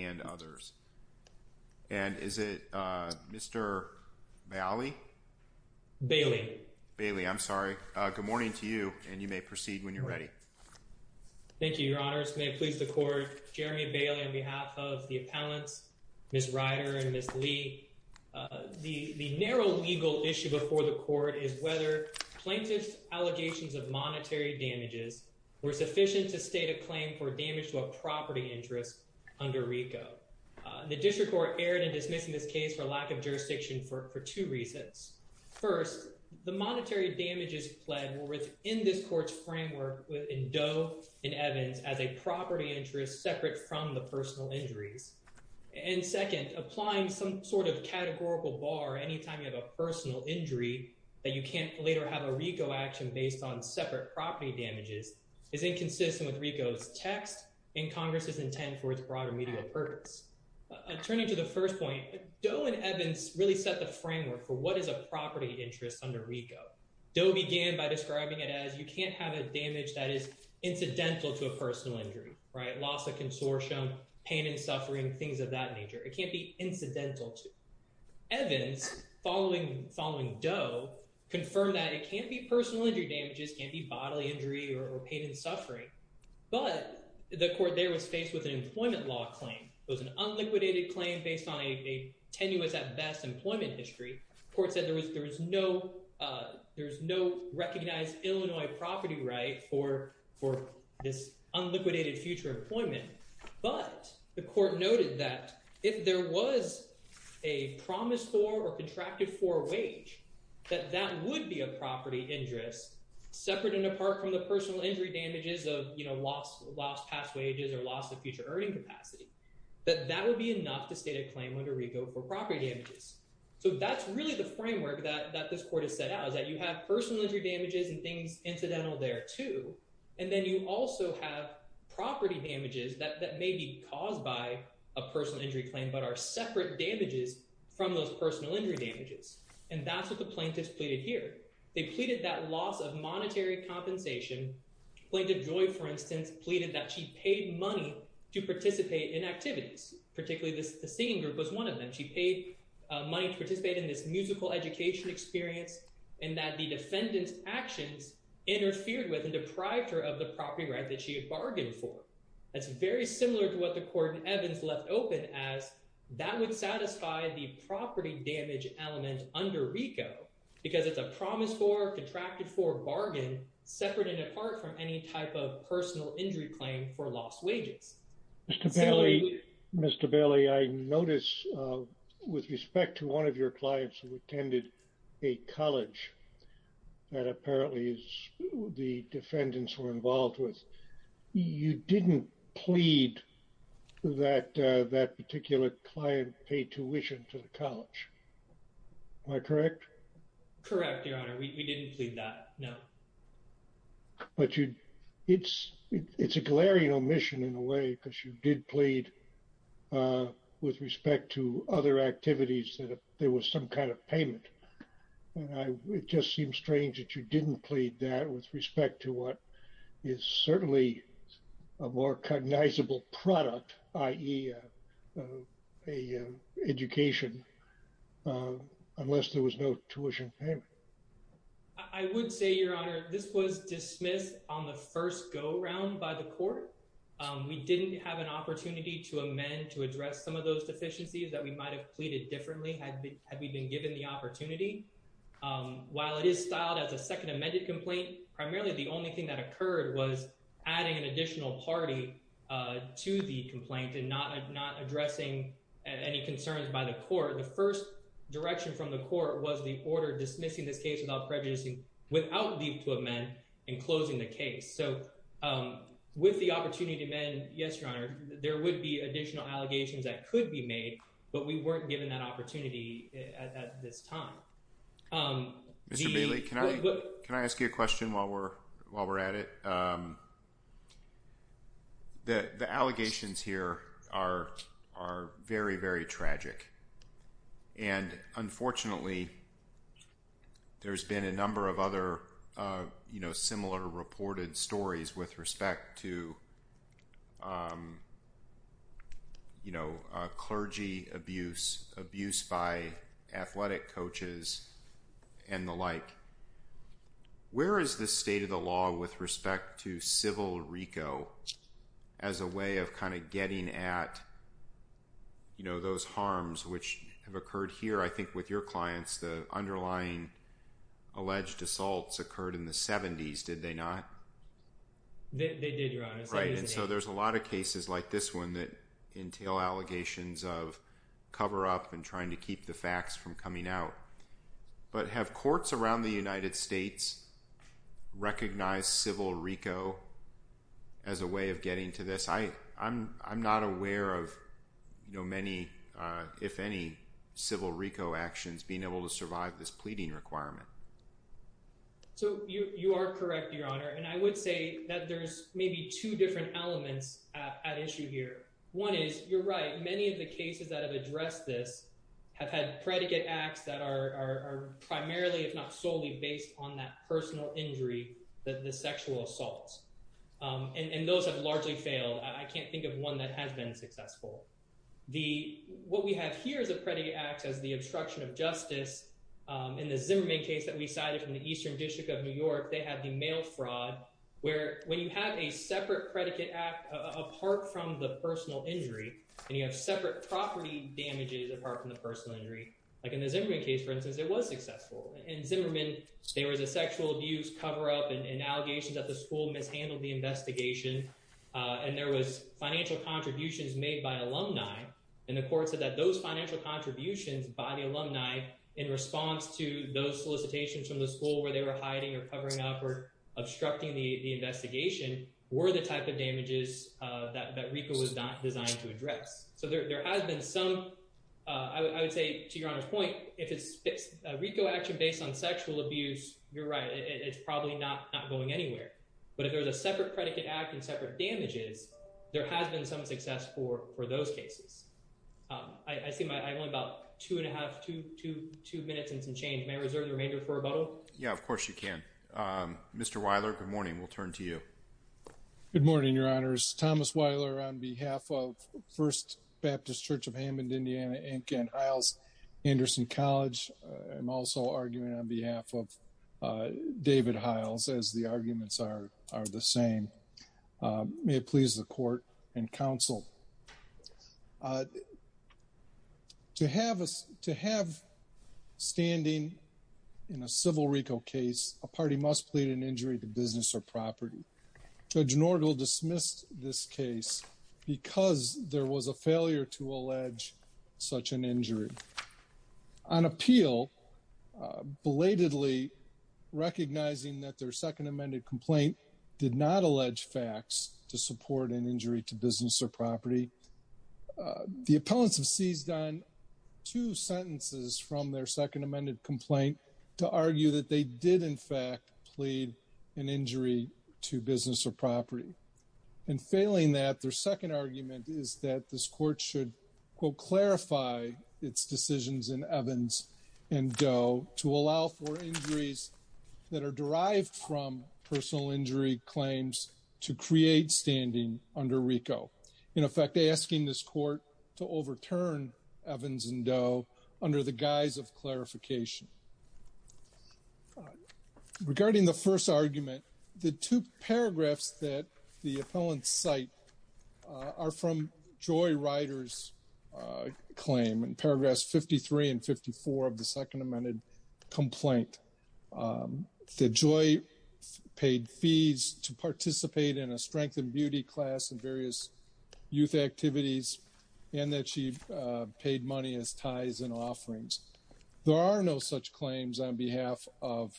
and others. And is it Mr. Bailey? Bailey. Bailey, I'm sorry. Good morning to you and you may proceed when you're ready. Thank you, Your Honors. May it please the Court, Jeremy Bailey on behalf of the appellants, Ms. Ryder and Ms. Lee, the narrow legal issue before the Court is whether plaintiff's allegations of monetary damages were sufficient to state a claim for damage to a property interest under RICO. The District Court erred in dismissing this case for lack of jurisdiction for two reasons. First, the monetary damages pledged were within this Court's framework in Doe and Evans as a property interest separate from the personal injuries. And second, applying some sort of categorical bar anytime you have a personal injury that you can't later have a RICO action based on separate property damages is inconsistent with RICO's text and Congress's intent for its broader media purpose. Turning to the first point, Doe and Evans really set the framework for what is a property interest under RICO. Doe began by describing it as you can't have a damage that is incidental to a personal injury, right? Loss of consortium, pain and suffering, things of that nature. It can't be incidental to. Evans, following Doe, confirmed that it can't be personal injury damages, can't be bodily injury or pain and suffering. But the court there was faced with an employment law claim. It was an unliquidated claim based on a tenuous, at best, employment history. The court said there is no recognized Illinois property right for this unliquidated future employment. But the court noted that if there was a promise for or contracted for wage, that that would be a property interest separate and apart from the personal injury damages of lost past wages or loss of future earning capacity. That that would be enough to state a claim under RICO for property damages. So that's really the framework that this court has set out, is that you have personal injury damages and things incidental there, too. And then you also have property damages that may be caused by a personal injury claim, but are separate damages from those personal injury damages. And that's what the plaintiffs pleaded here. They pleaded that loss of monetary compensation. Plaintiff Joy, for instance, pleaded that she paid money to participate in activities, particularly the singing group was one of them. She paid money to participate in this musical education experience and that the defendant's actions interfered with and deprived her of the property right that she had bargained for. That's very similar to what the court in Evans left open as that would satisfy the property damage element under RICO because it's a promise for, contracted for, bargain separate and apart from any type of personal injury claim for lost wages. Mr. Bailey, I notice with respect to one of your clients who attended a college that apparently the defendants were involved with, you didn't plead that that particular client paid tuition to the college. Am I correct? Correct, Your Honor. We didn't plead that, no. But you, it's, it's a glaring omission in a way because you did plead with respect to other activities that there was some kind of payment. It just seems strange that you didn't plead that with respect to what is certainly a more cognizable product, i.e. education, unless there was no tuition payment. I would say, Your Honor, this was dismissed on the first go round by the court. We didn't have an opportunity to amend to address some of those deficiencies that we might have pleaded differently had we been given the opportunity. While it is styled as a second amended complaint, primarily the only thing that occurred was adding an additional party to the complaint and not addressing any concerns by the court. The first direction from the court was the order dismissing this case without prejudicing, without leave to amend, and closing the case. So, with the opportunity to amend, yes, Your Honor, there would be additional allegations that could be made, but we weren't given that opportunity at this time. Mr. Bailey, can I ask you a question while we're at it? The allegations here are very, very tragic. Unfortunately, there's been a number of other similar reported stories with respect to clergy abuse, abuse by athletic coaches, and the like. Where is the state of the law with respect to civil RICO as a way of getting at those harms which have occurred here? I think with your clients, the underlying alleged assaults occurred in the 70s, did they not? They did, Your Honor. Right, and so there's a lot of cases like this one that entail allegations of cover-up and trying to keep the facts from coming out. But have courts around the United States recognized civil RICO as a way of getting to this? I'm not aware of many, if any, civil RICO actions being able to survive this pleading requirement. So, you are correct, Your Honor, and I would say that there's maybe two different elements at issue here. One is, you're right, many of the cases that have addressed this have had predicate acts that are primarily, if not solely, based on that personal injury, the sexual assaults. And those have largely failed. I can't think of one that has been successful. What we have here is a predicate act as the obstruction of justice. In the Zimmerman case that we cited from the Eastern District of New York, they have the mail fraud, where when you have a separate predicate act apart from the personal injury, and you have separate property damages apart from the personal injury. Like in the Zimmerman case, for instance, it was successful. In Zimmerman, there was a sexual abuse cover-up and allegations that the school mishandled the investigation, and there was financial contributions made by alumni. And the court said that those financial contributions by the alumni in response to those solicitations from the school where they were hiding or covering up or obstructing the investigation were the type of damages that RICO was not designed to address. So, there has been some, I would say, to Your Honor's point, if it's a RICO action based on sexual abuse, you're right, it's probably not going anywhere. But if there's a separate predicate act and separate damages, there has been some success for those cases. I only have about two and a half, two minutes and some change. May I reserve the remainder for rebuttal? Yeah, of course you can. Mr. Weiler, good morning. We'll turn to you. Good morning, Your Honors. Thomas Weiler on behalf of First Baptist Church of Hammond, Indiana, Inc. and Hiles Anderson College. I'm also arguing on behalf of David Hiles, as the arguments are the same. May it please the court and counsel. To have standing in a civil RICO case, a party must plead an injury to business or property. Judge Norgel dismissed this case because there was a failure to allege such an injury. On appeal, belatedly recognizing that their second amended complaint did not allege facts to support an injury to business or property, the appellants have seized on two sentences from their second amended complaint to argue that they did, in fact, plead an injury to business or property. In failing that, their second argument is that this court should, quote, clarify its decisions in Evans and Doe to allow for injuries that are derived from personal injury claims to create standing under RICO. In effect, asking this court to overturn Evans and Doe under the guise of clarification. Regarding the first argument, the two paragraphs that the appellants cite are from Joy Ryder's claim in paragraphs 53 and 54 of the second amended complaint. That Joy paid fees to participate in a strength and beauty class and various youth activities and that she paid money as tithes and offerings. There are no such claims on behalf of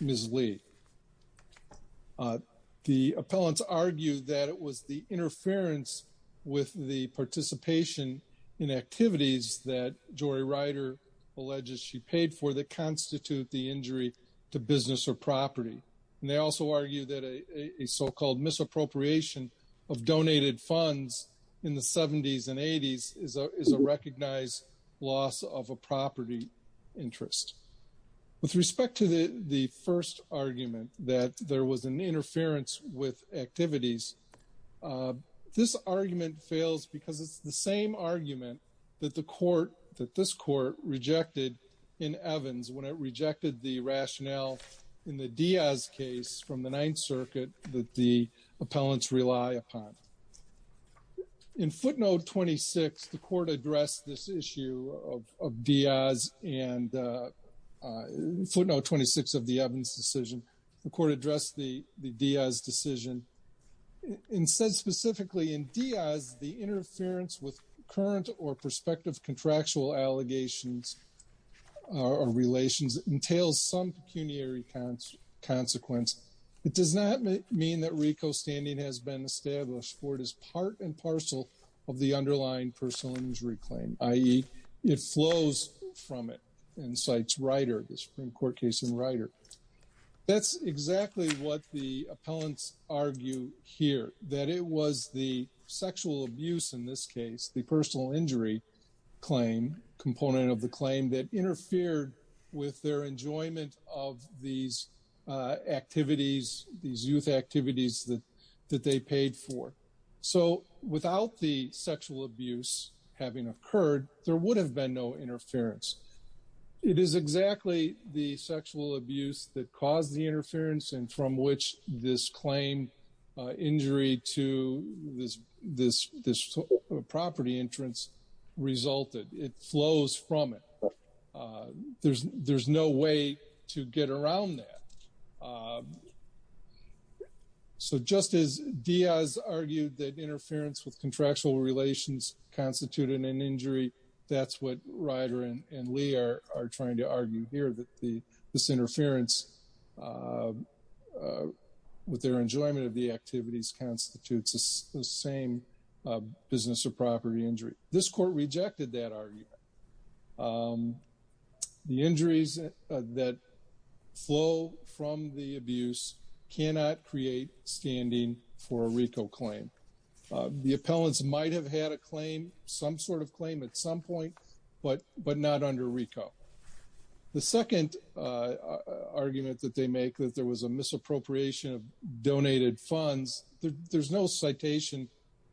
Ms. Lee. The appellants argue that it was the interference with the participation in activities that Joy Ryder alleges she paid for that constitute the injury to business or property. And they also argue that a so-called misappropriation of donated funds in the 70s and 80s is a recognized loss of a property interest. With respect to the first argument that there was an interference with activities, this argument fails because it's the same argument that this court rejected in Evans when it rejected the rationale in the Diaz case from the Ninth Circuit that the appellants rely upon. In footnote 26, the court addressed this issue of Diaz and footnote 26 of the Evans decision. The court addressed the Diaz decision and said specifically in Diaz the interference with current or prospective contractual allegations or relations entails some pecuniary consequence. It does not mean that RICO standing has been established for it is part and parcel of the underlying personal injury claim, i.e. it flows from it and cites Ryder, the Supreme Court case in Ryder. That's exactly what the appellants argue here, that it was the sexual abuse in this case, the personal injury claim component of the claim that interfered with their enjoyment of these activities, these youth activities that they paid for. So without the sexual abuse having occurred, there would have been no interference. It is exactly the sexual abuse that caused the interference and from which this claim injury to this property entrance resulted. It flows from it. There's no way to get around that. So just as Diaz argued that interference with contractual relations constituted an injury, that's what Ryder and Lee are trying to argue here, that this interference with their enjoyment of the activities constitutes the same business or property injury. This court rejected that argument. The injuries that flow from the abuse cannot create standing for a RICO claim. The appellants might have had a claim, some sort of claim at some point, but not under RICO. The second argument that they make that there was a misappropriation of donated funds, there's no citation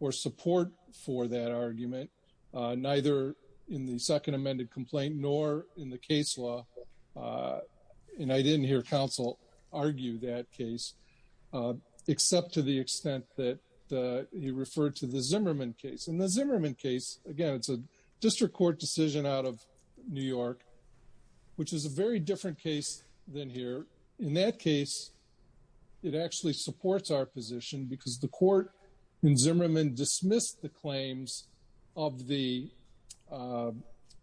or support for that argument, neither in the second amended complaint nor in the case law. And I didn't hear counsel argue that case, except to the extent that he referred to the Zimmerman case. In the Zimmerman case, again, it's a district court decision out of New York, which is a very different case than here. In that case, it actually supports our position because the court in Zimmerman dismissed the claims of the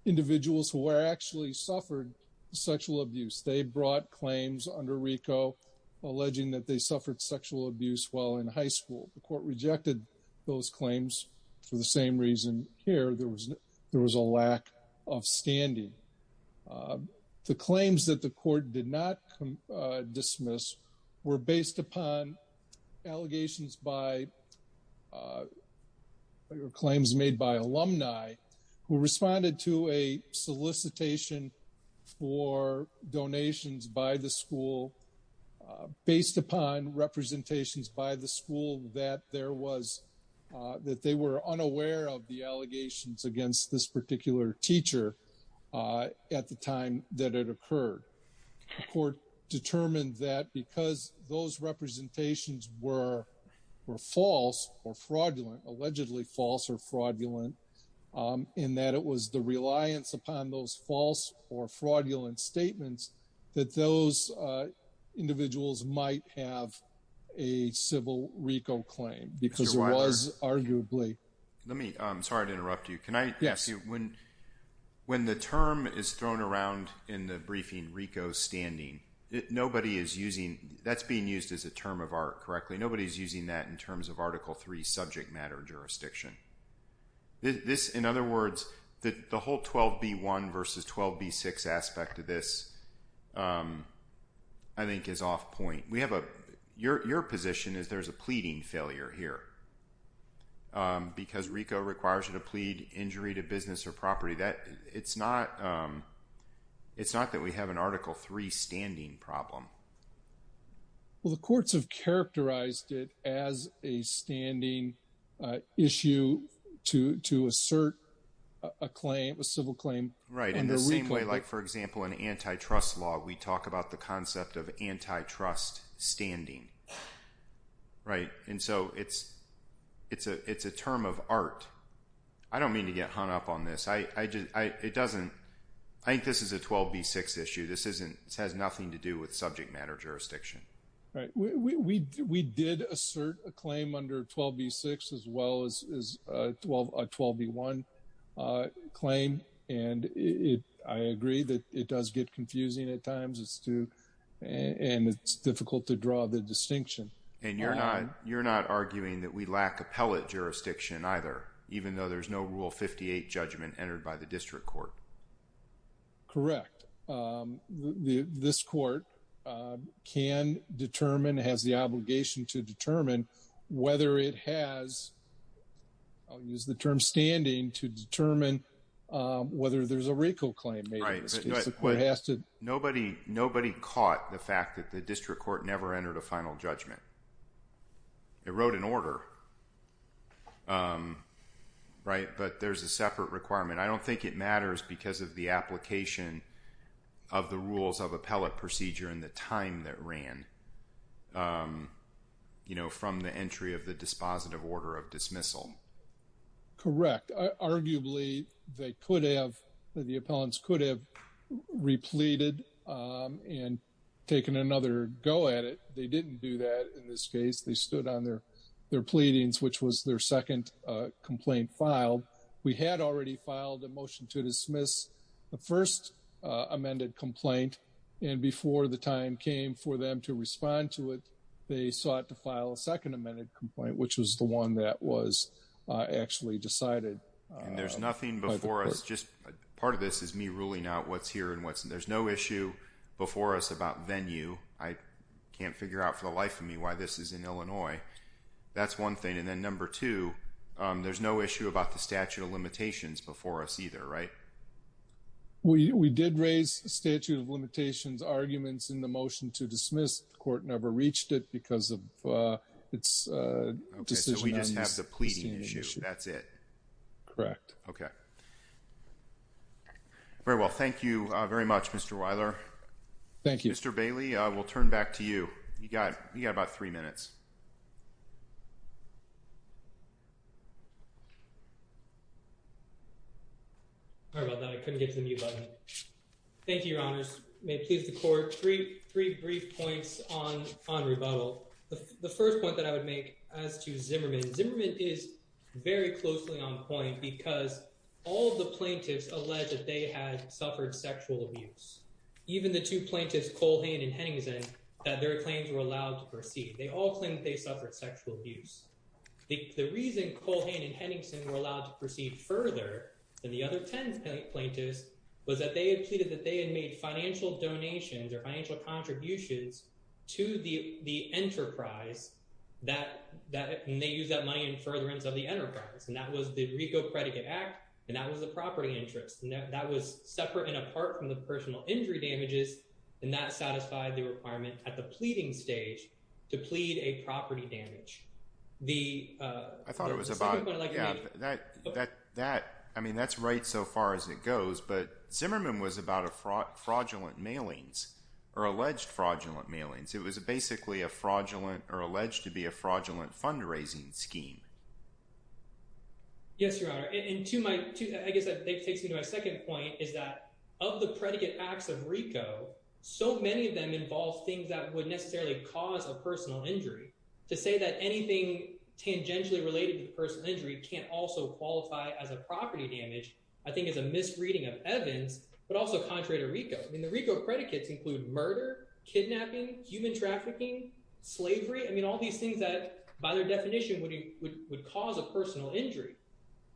individuals who actually suffered sexual abuse. They brought claims under RICO alleging that they suffered sexual abuse while in high school. The court rejected those claims for the same reason here, there was a lack of standing. The claims that the court did not dismiss were based upon allegations by or claims made by alumni who responded to a solicitation for donations by the school based upon representations by the school that they were unaware of the allegations against this particular teacher. At the time that it occurred, the court determined that because those representations were false or fraudulent, allegedly false or fraudulent, in that it was the reliance upon those false or fraudulent statements that those individuals might have a civil RICO claim. I'm sorry to interrupt you, when the term is thrown around in the briefing RICO standing, that's being used as a term of art correctly, nobody's using that in terms of Article 3 subject matter jurisdiction. In other words, the whole 12B1 versus 12B6 aspect of this I think is off point. Your position is there's a pleading failure here because RICO requires you to plead injury to business or property. It's not that we have an Article 3 standing problem. Well, the courts have characterized it as a standing issue to assert a claim, a civil claim. Right, in the same way, like, for example, in antitrust law, we talk about the concept of antitrust standing. Right, and so it's a term of art. I don't mean to get hung up on this, I think this is a 12B6 issue, this has nothing to do with subject matter jurisdiction. Right, we did assert a claim under 12B6 as well as a 12B1 claim, and I agree that it does get confusing at times, and it's difficult to draw the distinction. And you're not arguing that we lack appellate jurisdiction either, even though there's no Rule 58 judgment entered by the district court. Correct. This court can determine, has the obligation to determine whether it has, I'll use the term standing, to determine whether there's a RICO claim made in this case. Nobody caught the fact that the district court never entered a final judgment. It wrote an order, right, but there's a separate requirement. I don't think it matters because of the application of the rules of appellate procedure and the time that ran from the entry of the dispositive order of dismissal. Correct. Arguably, they could have, the appellants could have repleted and taken another go at it. They didn't do that in this case. They stood on their pleadings, which was their second complaint filed. We had already filed a motion to dismiss the first amended complaint, and before the time came for them to respond to it, they sought to file a second amended complaint, which was the one that was actually decided. And there's nothing before us, just part of this is me ruling out what's here and what's, there's no issue before us about venue. I can't figure out for the life of me why this is in Illinois. That's one thing. And then number two, there's no issue about the statute of limitations before us either, right? We did raise the statute of limitations arguments in the motion to dismiss. The court never reached it because of its decision. Okay, so we just have the pleading issue. That's it. Correct. Okay. Very well. Thank you very much, Mr. Weiler. Thank you. Mr. Bailey, we'll turn back to you. You got about three minutes. Thank you, Your Honors. May it please the court. Three brief points on rebuttal. The first point that I would make as to Zimmerman, Zimmerman is very closely on point because all the plaintiffs alleged that they had suffered sexual abuse. Even the two plaintiffs, Colhane and Henningsen, that their claims were allowed to proceed. They all claimed they suffered sexual abuse. The reason Colhane and Henningsen were allowed to proceed further than the other 10 plaintiffs was that they had pleaded that they had made financial donations or financial contributions to the enterprise that they use that money in furtherance of the enterprise. And that was the Rico Credit Act, and that was the property interest. That was separate and apart from the personal injury damages, and that satisfied the requirement at the pleading stage to plead a property damage. I thought it was about that. I mean, that's right so far as it goes, but Zimmerman was about a fraud fraudulent mailings or alleged fraudulent mailings. It was basically a fraudulent or alleged to be a fraudulent fundraising scheme. Yes, Your Honor. And to my tooth, I guess that takes me to my second point is that of the predicate acts of Rico, so many of them involve things that would necessarily cause a personal injury to say that anything tangentially related to personal injury can't also qualify as a property damage. I think it's a misreading of Evans, but also contrary to Rico. I mean, the Rico predicates include murder, kidnapping, human trafficking, slavery. I mean, all these things that, by their definition, would cause a personal injury.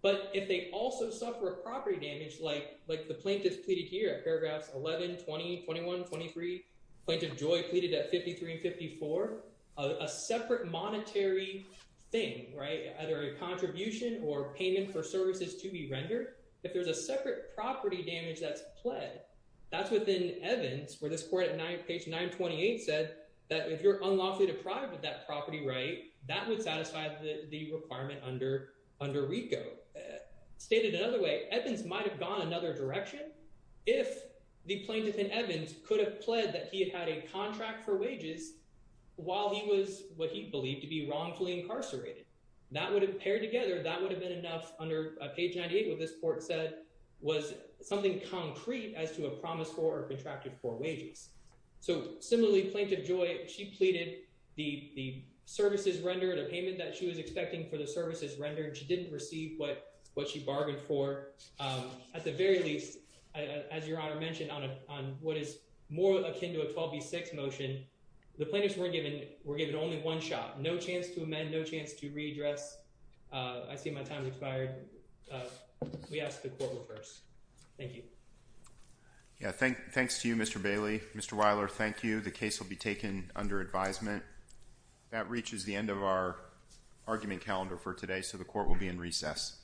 But if they also suffer a property damage like the plaintiff pleaded here at paragraphs 11, 20, 21, 23, Plaintiff Joy pleaded at 53 and 54, a separate monetary thing, right, either a contribution or payment for services to be rendered. If there's a separate property damage that's pled, that's within Evans where this court at page 928 said that if you're unlawfully deprived of that property right, that would satisfy the requirement under Rico. Stated another way, Evans might have gone another direction if the plaintiff in Evans could have pled that he had a contract for wages while he was what he believed to be wrongfully incarcerated. That would have paired together, that would have been enough under page 98 what this court said was something concrete as to a promise for or contracted for wages. So, similarly, Plaintiff Joy, she pleaded the services rendered, a payment that she was expecting for the services rendered. She didn't receive what she bargained for. At the very least, as Your Honor mentioned, on what is more akin to a 12B6 motion, the plaintiffs were given only one shot. No chance to amend, no chance to readdress. I see my time has expired. We ask the court refers. Thank you. Yeah, thanks to you, Mr. Bailey. Mr. Weiler, thank you. The case will be taken under advisement. That reaches the end of our argument calendar for today, so the court will be in recess.